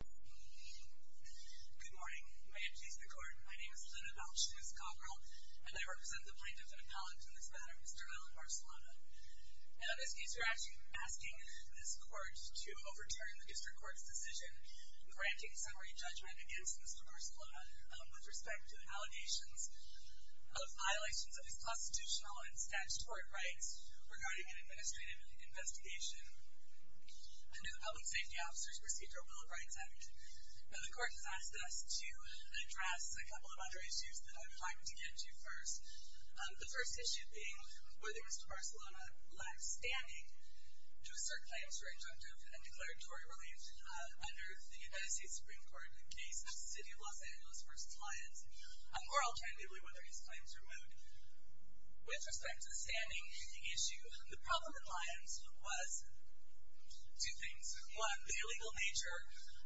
Good morning. May it please the Court, my name is Linda Belch, Ms. Cockrell, and I represent the plaintiff and appellant in this matter, Mr. Alan Barcelona. And on this case, we're actually asking this Court to overturn the District Court's decision granting summary judgment against Mr. Barcelona with respect to allegations of violations of his constitutional and statutory rights regarding an administrative investigation. Under the Public Safety Officers Procedure Will of Rights Act, the Court has asked us to address a couple of other issues that I would like to get to first. The first issue being whether Mr. Barcelona lacked standing to assert claims for injunctive and declaratory relief under the United States Supreme Court case of the City of Los Angeles v. Lyons, or alternatively, whether his claims were moot. With respect to the standing issue, the problem in Lyons was two things. One, the illegal nature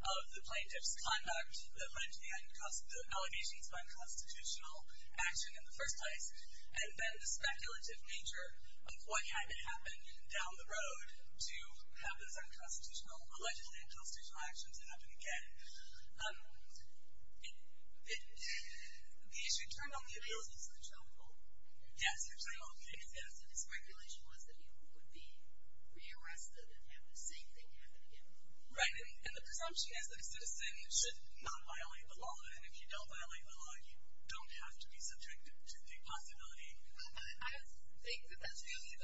of the plaintiff's conduct that led to the allegations of unconstitutional action in the first place, and then the speculative nature of what had to happen down the road to have those allegedly unconstitutional actions happen again. The issue turned on the appealers. Yes, there's no hope. His regulation was that he would be re-arrested and have the same thing happen again. Right, and the presumption is that a citizen should not violate the law, and if you don't violate the law, you don't have to be subjected to the possibility. I think that that's really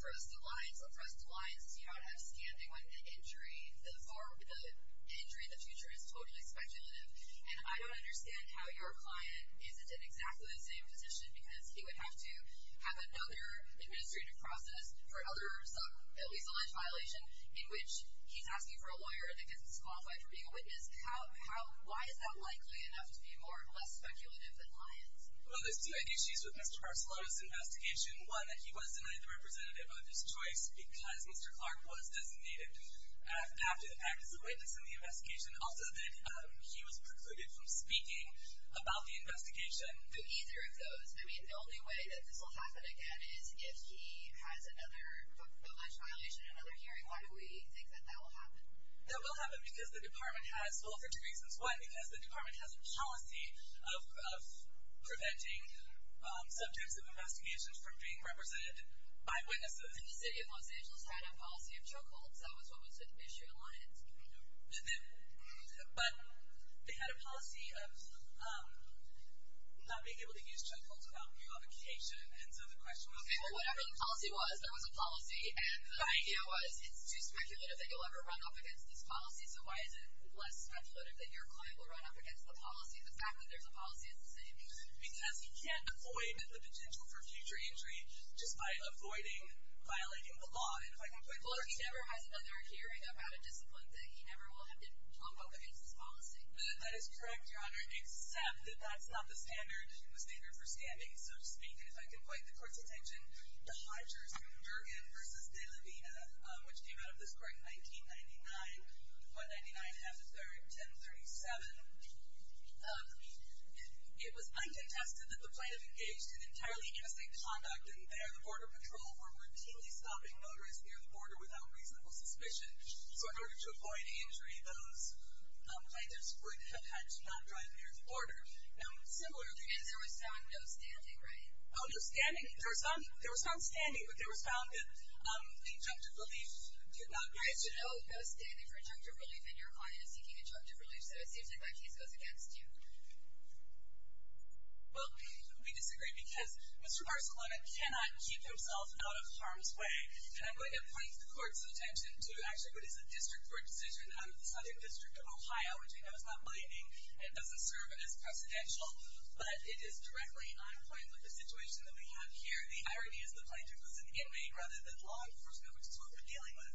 for us at Lyons. For us at Lyons, you don't have standing when the injury in the future is totally speculative. And I don't understand how your client isn't in exactly the same position because he would have to have another administrative process for at least a Lyons violation in which he's asking for a lawyer and the witness qualified for being a witness. Why is that likely enough to be less speculative than Lyons? Well, there's two issues with Mr. Barcelona's investigation. One, that he was denied the representative of his choice because Mr. Clark was designated to act as a witness in the investigation. Also, that he was precluded from speaking about the investigation. Either of those. I mean, the only way that this will happen again is if he has another violation, another hearing. Why do we think that that will happen? That will happen because the department has, well, for two reasons. One, because the department has a policy of preventing subjects of investigations from being represented by witnesses. And the city of Los Angeles had a policy of chokeholds. That was what was at issue at Lyons. But they had a policy of not being able to use chokeholds without revocation. And so the question was, Okay, well, whatever the policy was, there was a policy. And the idea was, it's too speculative that you'll ever run up against this policy. So why is it less speculative that your client will run up against the policy if the fact that there's a policy is the same? Because he can't avoid the potential for future injury just by avoiding violating the law. And if I can point to the court's attention. Well, he never has another hearing about a discipline that he never will have to jump up against this policy. That is correct, Your Honor. Except that that's not the standard, the standard for standing. So to speak, and if I can point the court's attention, the Hodgers-Durgan v. De La Vina, which came out of this court in 1999. 1999, 1037. It was undetested that the plaintiff engaged in entirely innocent conduct. And there, the Border Patrol were routinely stopping motorists near the border without reasonable suspicion. So in order to avoid injury, those plaintiffs would have had to not drive near the border. Now, similar to this, there was no standing, right? Oh, no standing. There was no standing, but there was found that injunctive relief did not exist. There was no standing for injunctive relief, and Your Honor is seeking injunctive relief. So it seems like my case goes against you. Well, we disagree because Mr. Barcelona cannot keep himself out of harm's way. And I'm going to point the court's attention to actually what is a district court decision out of the Southern District of Ohio, which we know is not binding and doesn't serve as precedential. But it is directly on point with the situation that we have here. The irony is the plaintiff was an inmate rather than law enforcement, which is what we're dealing with.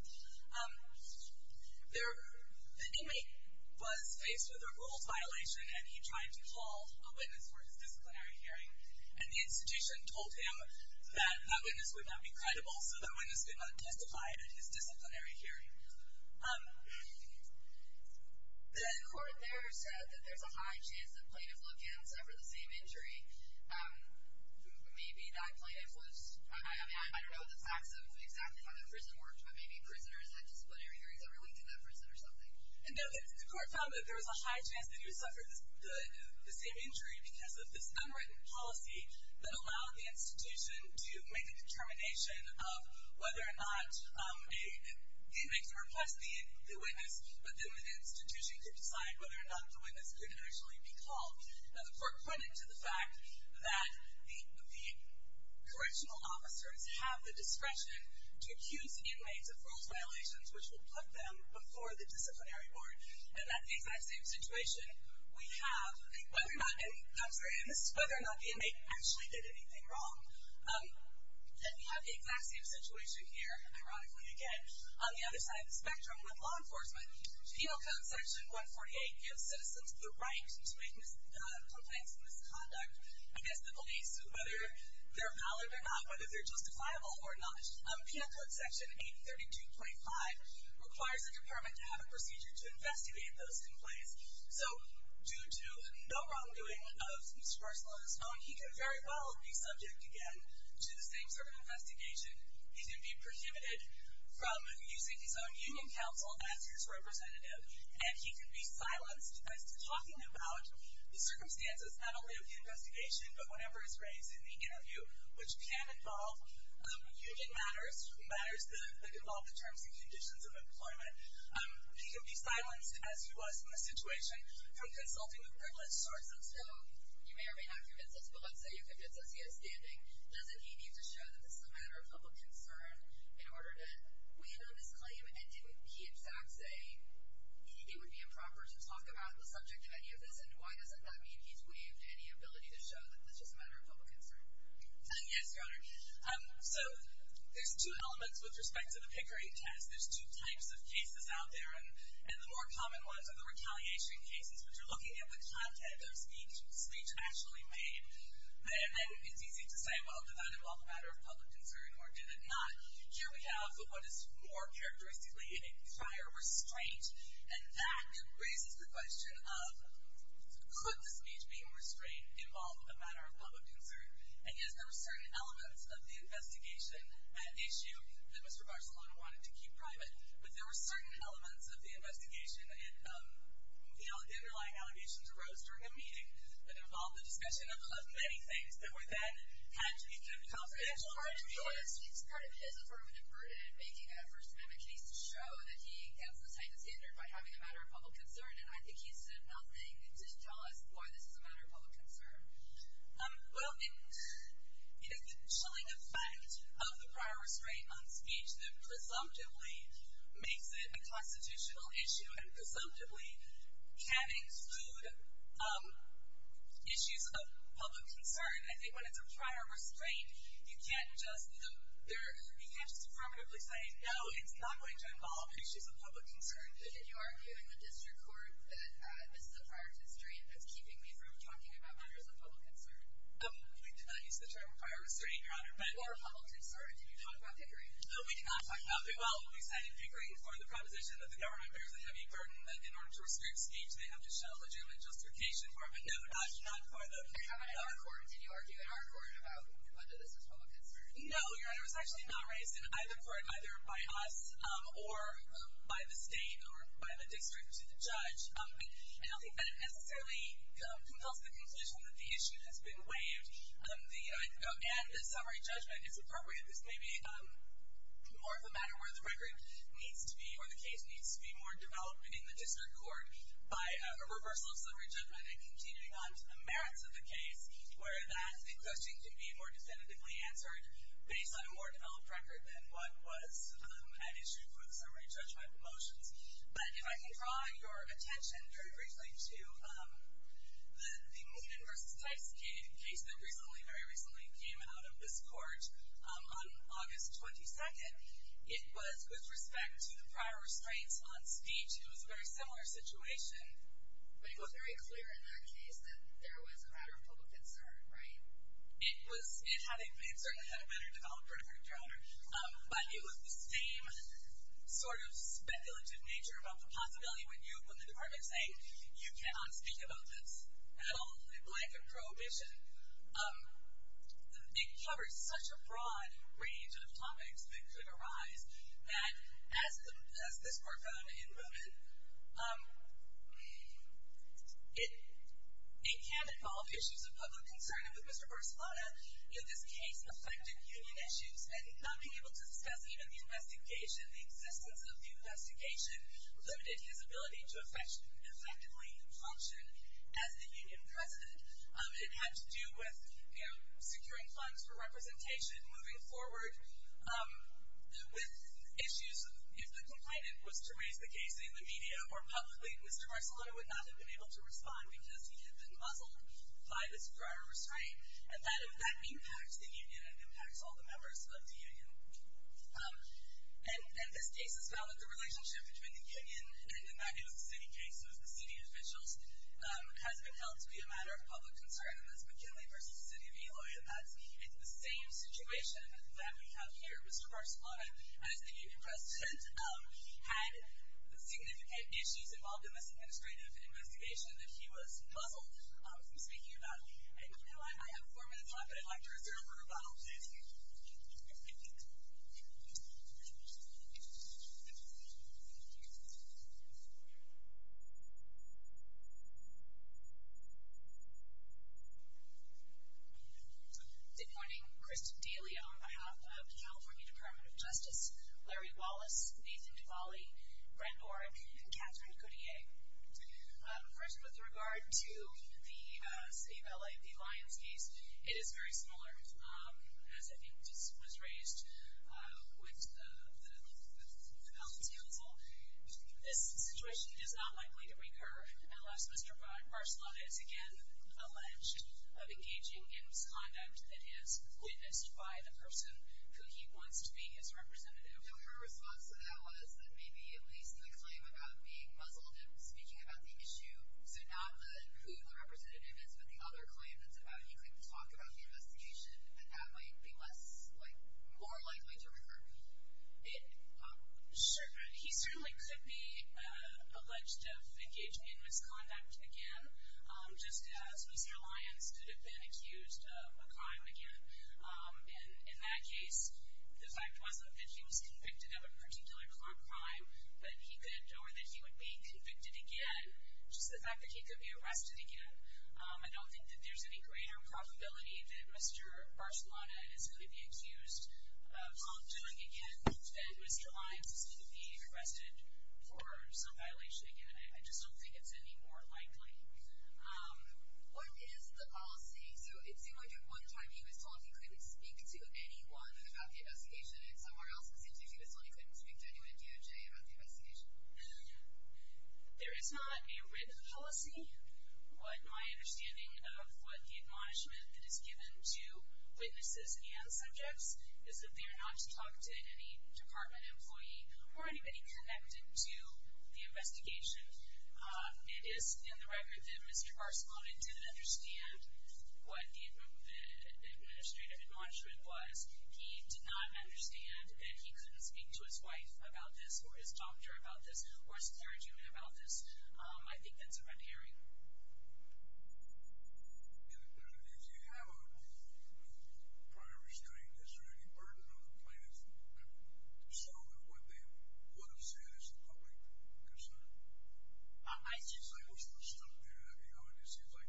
The inmate was faced with a rules violation, and he tried to call a witness for his disciplinary hearing. And the institution told him that that witness would not be credible, so that witness did not testify at his disciplinary hearing. The court there said that there's a high chance the plaintiff looked in and suffered the same injury. Maybe that plaintiff was, I don't know the facts of exactly how the prison worked, but maybe prisoners had disciplinary hearings every week in that prison or something. And the court found that there was a high chance that he would suffer the same injury because of this unwritten policy that allowed the institution to make a determination of whether or not the inmates would request the witness, but then the institution could decide whether or not the witness could initially be called. Now, the court pointed to the fact that the correctional officers have the discretion to accuse inmates of rules violations, which would put them before the disciplinary board. And at the exact same situation, we have whether or not the inmate actually did anything wrong. And we have the exact same situation here, ironically again, on the other side of the spectrum with law enforcement. Penal Code Section 148 gives citizens the right to make complaints of misconduct against the police, whether they're valid or not, whether they're justifiable or not. Penal Code Section 832.5 requires the department to have a procedure to investigate those complaints. So, due to no wrongdoing of this person on his own, he could very well be subject again to the same sort of investigation. He could be prohibited from using his own union counsel as his representative, and he could be silenced. That's talking about the circumstances, not only of the investigation, but whenever he's raised in the interview, which can involve union matters, matters that involve the terms and conditions of employment. He could be silenced, as he was in this situation, from consulting with privileged sources. So, you may or may not be convinced of this, but let's say you're convinced that he is standing. Doesn't he need to show that this is a matter of public concern in order to waive his claim? And didn't he, in fact, say it would be improper to talk about the subject of any of this? And why doesn't that mean he's waived any ability to show that this is a matter of public concern? Yes, Your Honor. So, there's two elements with respect to the Pickering test. There's two types of cases out there, and the more common ones are the retaliation cases, which are looking at the content of speech, speech actually made. And then it's easy to say, well, did that involve a matter of public concern, or did it not? Here we have what is more characteristically a prior restraint, and that raises the question of could the speech being restrained involve a matter of public concern? And, yes, there were certain elements of the investigation issue that Mr. Barcelona wanted to keep private, but there were certain elements of the investigation, you know, the underlying allegations arose during a meeting that involved the discussion of many things that were then had to be kept confidential. The part of his affirmative verdict in making that First Amendment case to show that he has the type of standard by having a matter of public concern, and I think he said nothing to tell us why this is a matter of public concern. Well, it is the chilling effect of the prior restraint on speech that presumptively makes it a constitutional issue and presumptively can exclude issues of public concern. I think when it's a prior restraint, you can't just affirmatively say, no, it's not going to involve issues of public concern. Did you argue in the district court that this is a prior restraint that's keeping me from talking about matters of public concern? We did not use the term prior restraint, Your Honor. Or public concern. Did you talk about Pickering? No, we did not talk about Pickering. Well, we said in Pickering for the proposition that the government bears a heavy burden that in order to restrict speech, they have to show a legitimate justification for it, but no, not for the Pickering. Did you argue in our court about whether this was public concern? No, Your Honor, it was actually not raised in either court, either by us or by the state or by the district to the judge. And I don't think that it necessarily compels the conclusion that the issue has been waived. And the summary judgment is appropriate. This may be more of a matter where the record needs to be or the case needs to be more developed in the district court by a reversal of summary judgment and continuing on to the merits of the case where that question can be more definitively answered based on a more developed record than what was an issue for the summary judgment motions. But if I can draw your attention very briefly to the Meaden v. Tice case that very recently came out of this court on August 22nd, it was with respect to the prior restraints on speech. It was a very similar situation. But it was very clear in that case that there was a matter of public concern, right? It certainly had a better development record, Your Honor. But it was the same sort of speculative nature about the possibility when the department is saying you cannot speak about this at all in light of prohibition. It covered such a broad range of topics that could arise that as this court found in Movement, it can involve issues of public concern. And with Mr. Barcelona, this case affected union issues and not being able to discuss even the investigation, the existence of the investigation limited his ability to effectively function as the union president. It had to do with securing funds for representation moving forward with issues. If the complainant was to raise the case in the media or publicly, Mr. Barcelona would not have been able to respond because he had been muzzled by this prior restraint. And that impacts the union. It impacts all the members of the union. And this case is found that the relationship between the union and the Magnolia City case with the city officials has been held to be a matter of public concern. And as McKinley v. City of Eloy, it's the same situation that we have here. Mr. Barcelona, as the union president, had significant issues involved in this administrative investigation that he was muzzled from speaking about. I know I have four minutes left, but I'd like to reserve a rebuttal. Thank you. Good morning. Kristin D'Elia on behalf of the California Department of Justice, Larry Wallace, Nathan Duvalli, Brent Oren, and Catherine Cotillier. First, with regard to the City of L.A., the Lyons case, it is very similar, as I think was raised with the council. This situation is not likely to recur unless Mr. Barcelona is again alleged of engaging in misconduct that is witnessed by the person who he wants to be his representative. Your response to that was that maybe at least the claim about being muzzled and speaking about the issue, so not who the representative is, but the other claim that's about, he could talk about the investigation and that might be more likely to recur. Sure. He certainly could be alleged of engaging in misconduct again, just as Mr. Lyons could have been accused of a crime again. In that case, the fact wasn't that he was convicted of a particular crime, or that he would be convicted again, just the fact that he could be arrested again. I don't think that there's any greater probability that Mr. Barcelona is going to be accused of doing again than Mr. Lyons is going to be arrested for some violation again. I just don't think it's any more likely. What is the policy? It seemed like at one time he was told he couldn't speak to anyone about the investigation, and somewhere else it seems he was told he couldn't speak to anyone at DOJ about the investigation. There is not a written policy. My understanding of what the admonishment that is given to witnesses and subjects is that they are not to talk to any department employee or anybody connected to the investigation. It is in the record that Mr. Barcelona didn't understand what the administrative admonishment was. He did not understand that he couldn't speak to his wife about this, or his doctor about this, or his clergyman about this. I think that's a red herring. And if you have a prior restraint, is there any burden on the plaintiffs to show that what they would have said is a public concern? It seems like it was stuck there. It seems like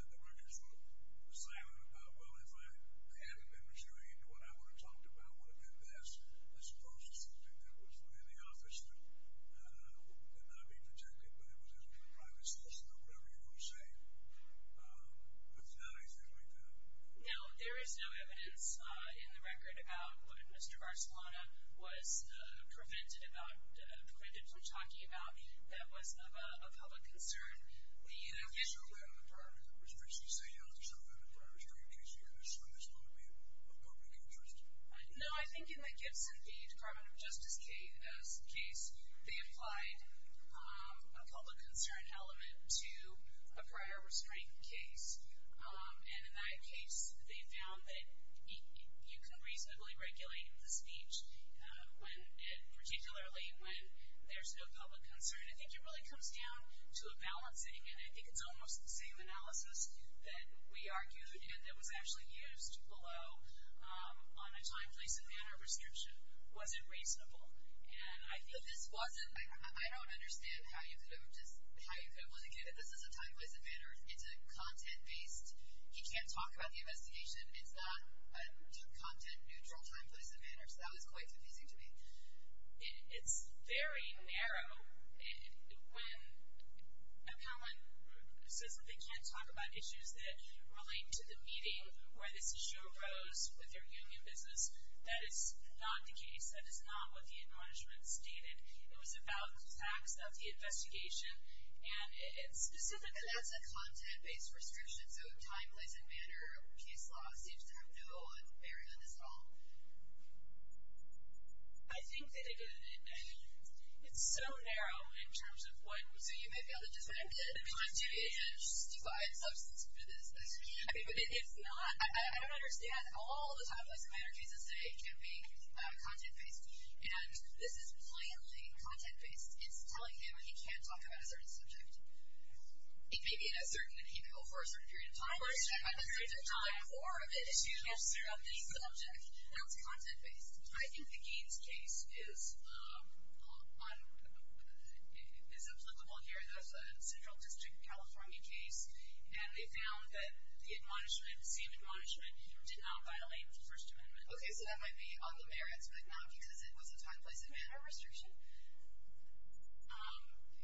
the records were silent about, well, if I hadn't been restrained, what I would have talked about would have been this, as opposed to something that was in the office that would not be protected, but it was a private solicitor, whatever you're going to say. There's not anything like that. No, there is no evidence in the record about what Mr. Barcelona was prevented about, what the plaintiffs were talking about, that was of a public concern. Now, is there a way on the part of the restraints that you say, you don't deserve a prior restraint case because from this moment we have a public interest? No, I think in the Gibson case, the Department of Justice case, they applied a public concern element to a prior restraint case, and in that case they found that you can reasonably regulate the speech, particularly when there's no public concern. I think it really comes down to a balancing, and I think it's almost the same analysis that we argued and that was actually used below on a time, place, and manner restriction. Was it reasonable? This wasn't, I don't understand how you could have, this is a time, place, and manner, it's a content-based, he can't talk about the investigation, it's not a content-neutral time, place, and manner, so that was quite confusing to me. It's very narrow. When someone says that they can't talk about issues that relate to the meeting, where this issue arose with their union business, that is not the case. That is not what the acknowledgement stated. It was about the facts of the investigation, and specifically that's a content-based restriction, so a time, place, and manner case law seems to have no bearing on this at all. I think they did, and it's so narrow in terms of what, so you may be able to just go ahead and do it, and just defy the substance and do this. But it's not, I don't understand all the time, place, and manner cases that can be content-based, and this is plainly content-based. It's telling him that he can't talk about a certain subject. It may be in a certain, and he can go for a certain period of time, but a certain time or an issue surrounding the subject, that's content-based. I think the Gaines case is applicable here. That was a Central District, California case, and they found that the admonishment, the same admonishment, did not violate First Amendment. Okay, so that might be on the merits, but not because it was a time, place, and manner restriction?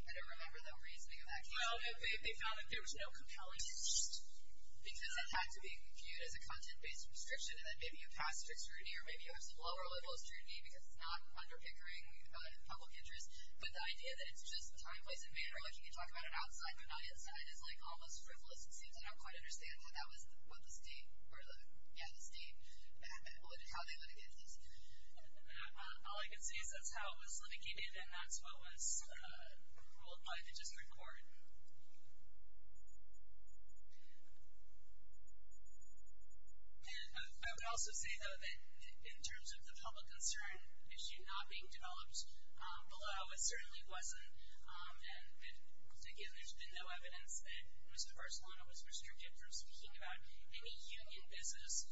I don't remember the reasoning of that case. Well, they found that there was no compelling interest, because that had to be viewed as a content-based restriction, and that maybe you pass strict scrutiny, or maybe you have some lower levels of scrutiny, because it's not underpickering public interest. But the idea that it's just a time, place, and manner, like you can talk about it outside, but not inside, is like almost frivolous. It seems I don't quite understand how that was what the state, or, yeah, the state, how they litigated this. All I can say is that's how it was litigated, and that's what was ruled by the District Court. I would also say, though, that in terms of the public concern issue not being developed, although it certainly wasn't, and, again, there's been no evidence that Mr. Barcelona was restricted from speaking about any union business,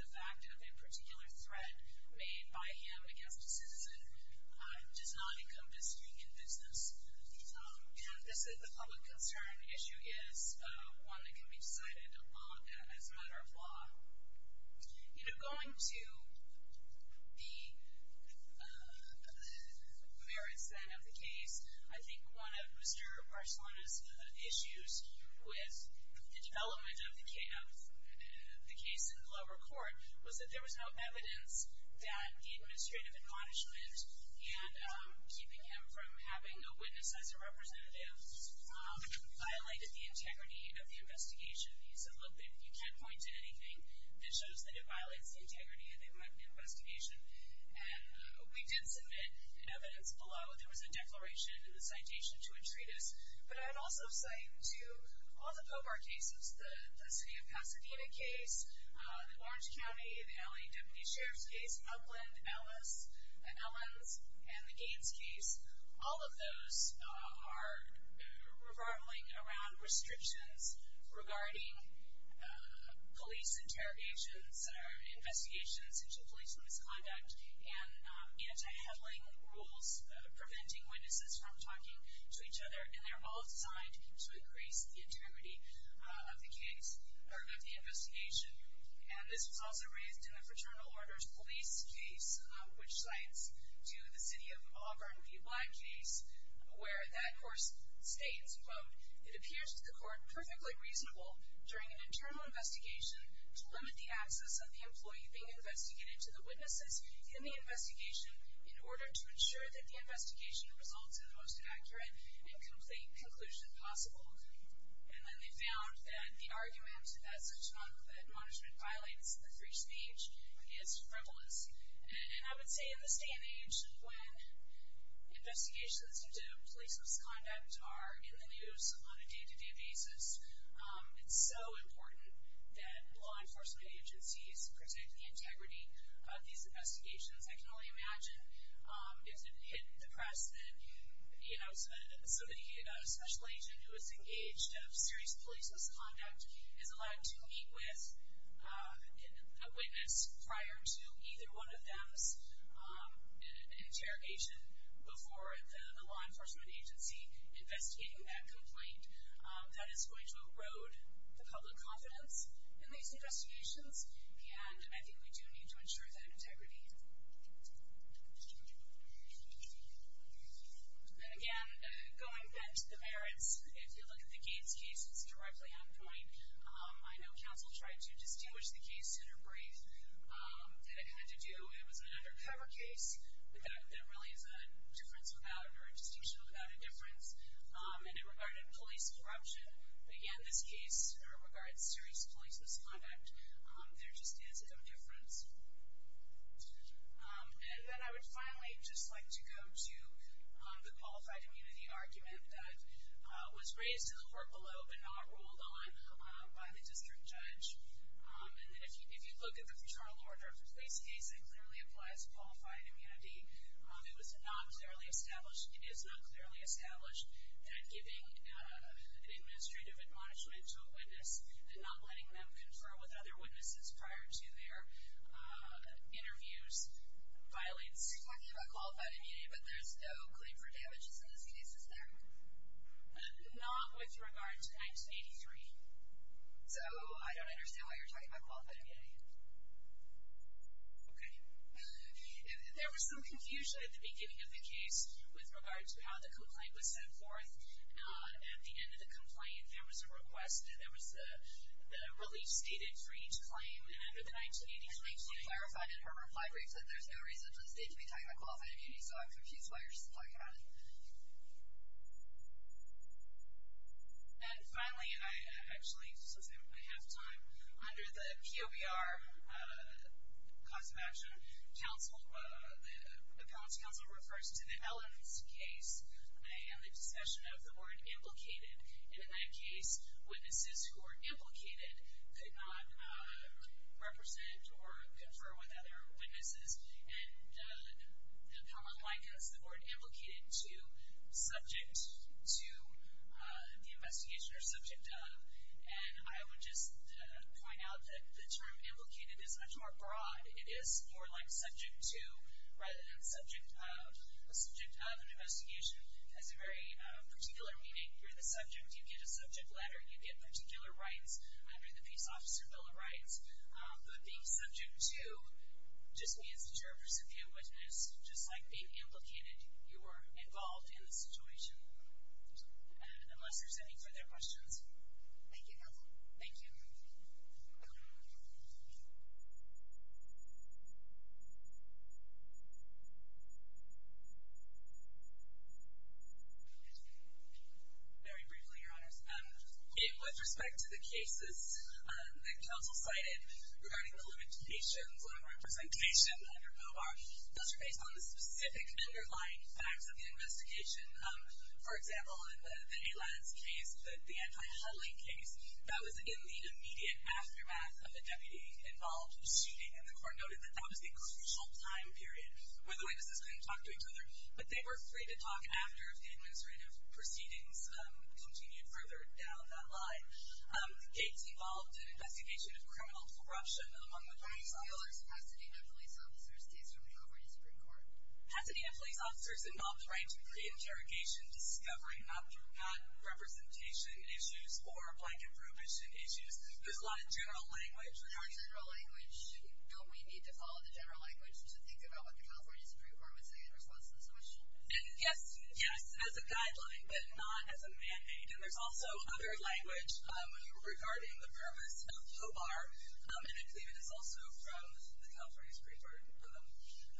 the fact of a particular threat made by him against a citizen does not encompass union business. And this public concern issue is one that can be decided as a matter of law. You know, going to the merits, then, of the case, I think one of Mr. Barcelona's issues with the development of the case in lower court was that there was no evidence that the administrative admonishment and keeping him from having a witness as a representative violated the integrity of the investigation. He said, look, you can't point to anything that shows that it violates the integrity of the investigation. And we did submit, in evidence below, there was a declaration in the citation to a treatise, but I would also say to all the POBAR cases, the city of Pasadena case, the Orange County, the LA deputy sheriff's case, Upland, Ellis, and Ellens, and the Gaines case, all of those are revolving around restrictions regarding police interrogations or investigations into police misconduct and anti-huddling rules, preventing witnesses from talking to each other, and they're all designed to increase the integrity of the investigation. And this was also raised in the Fraternal Orders Police case, which cites to the city of Auburn the Black case, where that, of course, states, quote, it appears to the court perfectly reasonable during an internal investigation to limit the access of the employee being investigated to the witnesses in the investigation in order to ensure that the investigation results in the most accurate and complete conclusion possible. And then they found that the argument that such noncompetent management violates the free speech is frivolous. And I would say in this day and age, when investigations into police misconduct are in the news on a day-to-day basis, it's so important that law enforcement agencies protect the integrity of these investigations. I can only imagine if it hit the press that, you know, somebody, a special agent who is engaged in serious police misconduct is allowed to meet with a witness prior to either one of them's interrogation before the law enforcement agency investigating that complaint. That is going to erode the public confidence in these investigations, and I think we do need to ensure that integrity. And again, going back to the merits, if you look at the Gates case, it's directly ongoing. I know counsel tried to distinguish the case in a brief that it had to do. It was an undercover case, but that really is a difference without, or a distinction without a difference. And in regard to police corruption, again, this case regards serious police misconduct. There just is a difference. And then I would finally just like to go to the qualified immunity argument that was raised in the court below but not ruled on by the district judge. And then if you look at the Futurama Law and Order of the Police case, it clearly applies to qualified immunity. It was not clearly established, it is not clearly established that giving administrative admonishment to a witness and not letting them confer with other witnesses prior to their interviews violates. You're talking about qualified immunity, but there's no claim for damages in these cases there? Not with regard to 1983. So I don't understand why you're talking about qualified immunity. Okay. There was some confusion at the beginning of the case with regard to how the complaint was set forth. At the end of the complaint, there was a request, and there was a relief stated for each claim. And after the 1983 claim, she clarified in her reply brief that there's no reason for the state to be talking about qualified immunity, so I'm confused why you're just talking about it. And finally, I actually, since I don't have time, under the POBR Cause of Action Council, the Appellant's Council refers to the Ellens case and the discussion of the word implicated. And in that case, witnesses who were implicated could not represent or confer with other witnesses. And the appellant line cuts the word implicated to subject to the investigation or subject of, and I would just point out that the term implicated is much more broad. It is more like subject to rather than subject of. A subject of an investigation has a very particular meaning. You're the subject. You get a subject letter. You get particular rights under the Peace Officer Bill of Rights. But being subject to just means that you're a recipient witness. Just like being implicated, you are involved in the situation. Unless there's any further questions. Thank you, Counsel. Thank you. Very briefly, Your Honors. With respect to the cases that Counsel cited regarding the limitations on representation under POBR, those are based on the specific underlying facts of the investigation. For example, in the Ellens case, the anti-huddling case, that was in the immediate aftermath of a deputy-involved shooting, and the court noted that that was a crucial time period where the witnesses couldn't talk to each other. But they were free to talk after the administrative proceedings continued further down that line. Gates involved an investigation of criminal corruption among the police officers. Pasadena police officers involved the right to pre-interrogation, discovering not representation issues or blanket prohibition issues. There's a lot of general language regarding that. For general language, don't we need to follow the general language to think about what the California Supreme Court would say in response to this question? Yes. Yes, as a guideline, but not as a mandate. And there's also other language regarding the purpose of POBR. And I believe it is also from the California Supreme Court.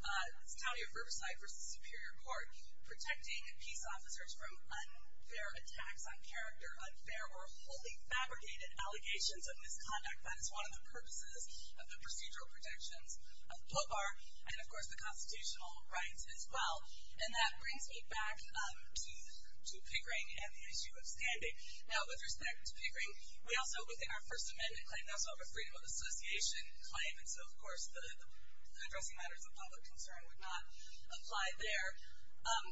The County of Riverside versus Superior Court, protecting peace officers from unfair attacks on character, unfair or wholly fabricated allegations of misconduct. That is one of the purposes of the procedural protections of POBR. And, of course, the constitutional rights as well. And that brings me back to Pigring and the issue of standing. Now, with respect to Pigring, we also, within our First Amendment claim, we also have a freedom of association claim. And so, of course, the addressing matters of public concern would not apply there. And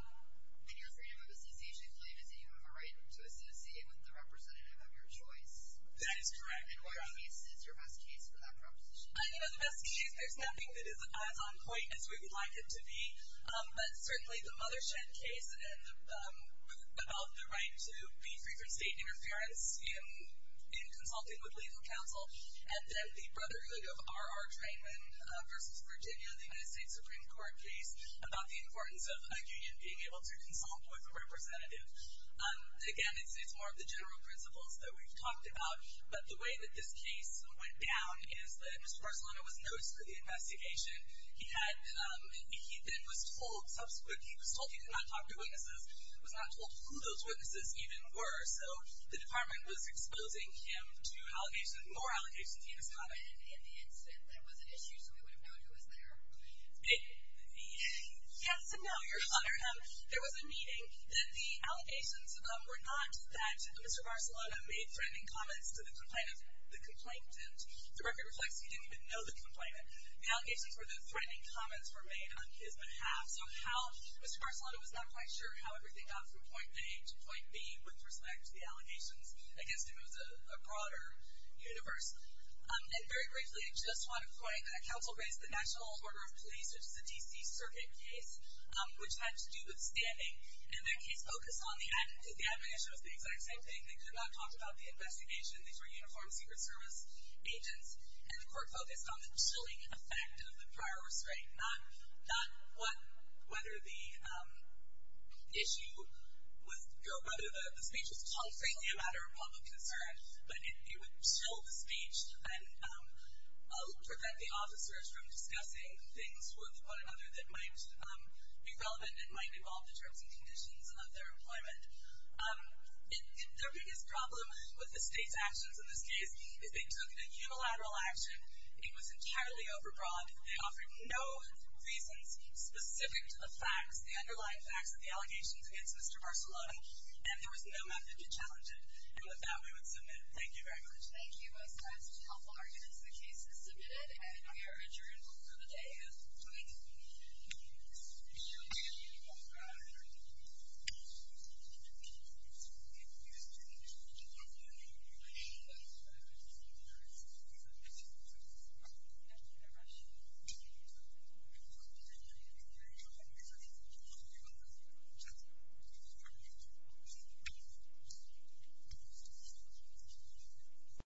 your freedom of association claim is that you have a right to associate with the representative of your choice. That is correct. And what case is your best case for that proposition? You know, the best case, there's nothing that is as on point as we would like it to be. But certainly the Mothershed case about the right to be free from state interference in consulting with legal counsel. And then the Brotherhood of R.R. Trainman versus Virginia, the United States Supreme Court case about the importance of a union being able to consult with a representative. Again, it's more of the general principles that we've talked about. But the way that this case went down is that Mr. Barcelona was noticed for the investigation. He then was told subsequently, he was told he could not talk to witnesses, was not told who those witnesses even were. So the department was exposing him to allegations, more allegations, he discovered. And in the instant there was an issue, so we would have known who was there? Yes and no. There was a meeting. Then the allegations were not that Mr. Barcelona made threatening comments to the complainant. The record reflects he didn't even know the complainant. The allegations were that threatening comments were made on his behalf. So how Mr. Barcelona was not quite sure how everything got from point A to point B with respect to the allegations, I guess to him it was a broader universe. And very briefly, I just want to point, the council raised the National Order of Police, which is a D.C. circuit case, which had to do with standing. And that case focused on the admonition, because the admonition was the exact same thing. They could not talk about the investigation. These were uniformed Secret Service agents. And the court focused on the chilling effect of the prior restraint, not whether the speech was conflating a matter of public concern, but it would chill the speech and prevent the officers from discussing things with one another that might be relevant and might involve the terms and conditions of their employment. The biggest problem with the state's actions in this case is they took a unilateral action. It was entirely overbroad. They offered no reasons specific to the facts, the underlying facts of the allegations against Mr. Barcelona, and there was no method to challenge it. And with that, we would submit. Thank you very much. Thank you. As a couple arguments, the case is submitted. And we are adjourned for the day. Good night. Thank you.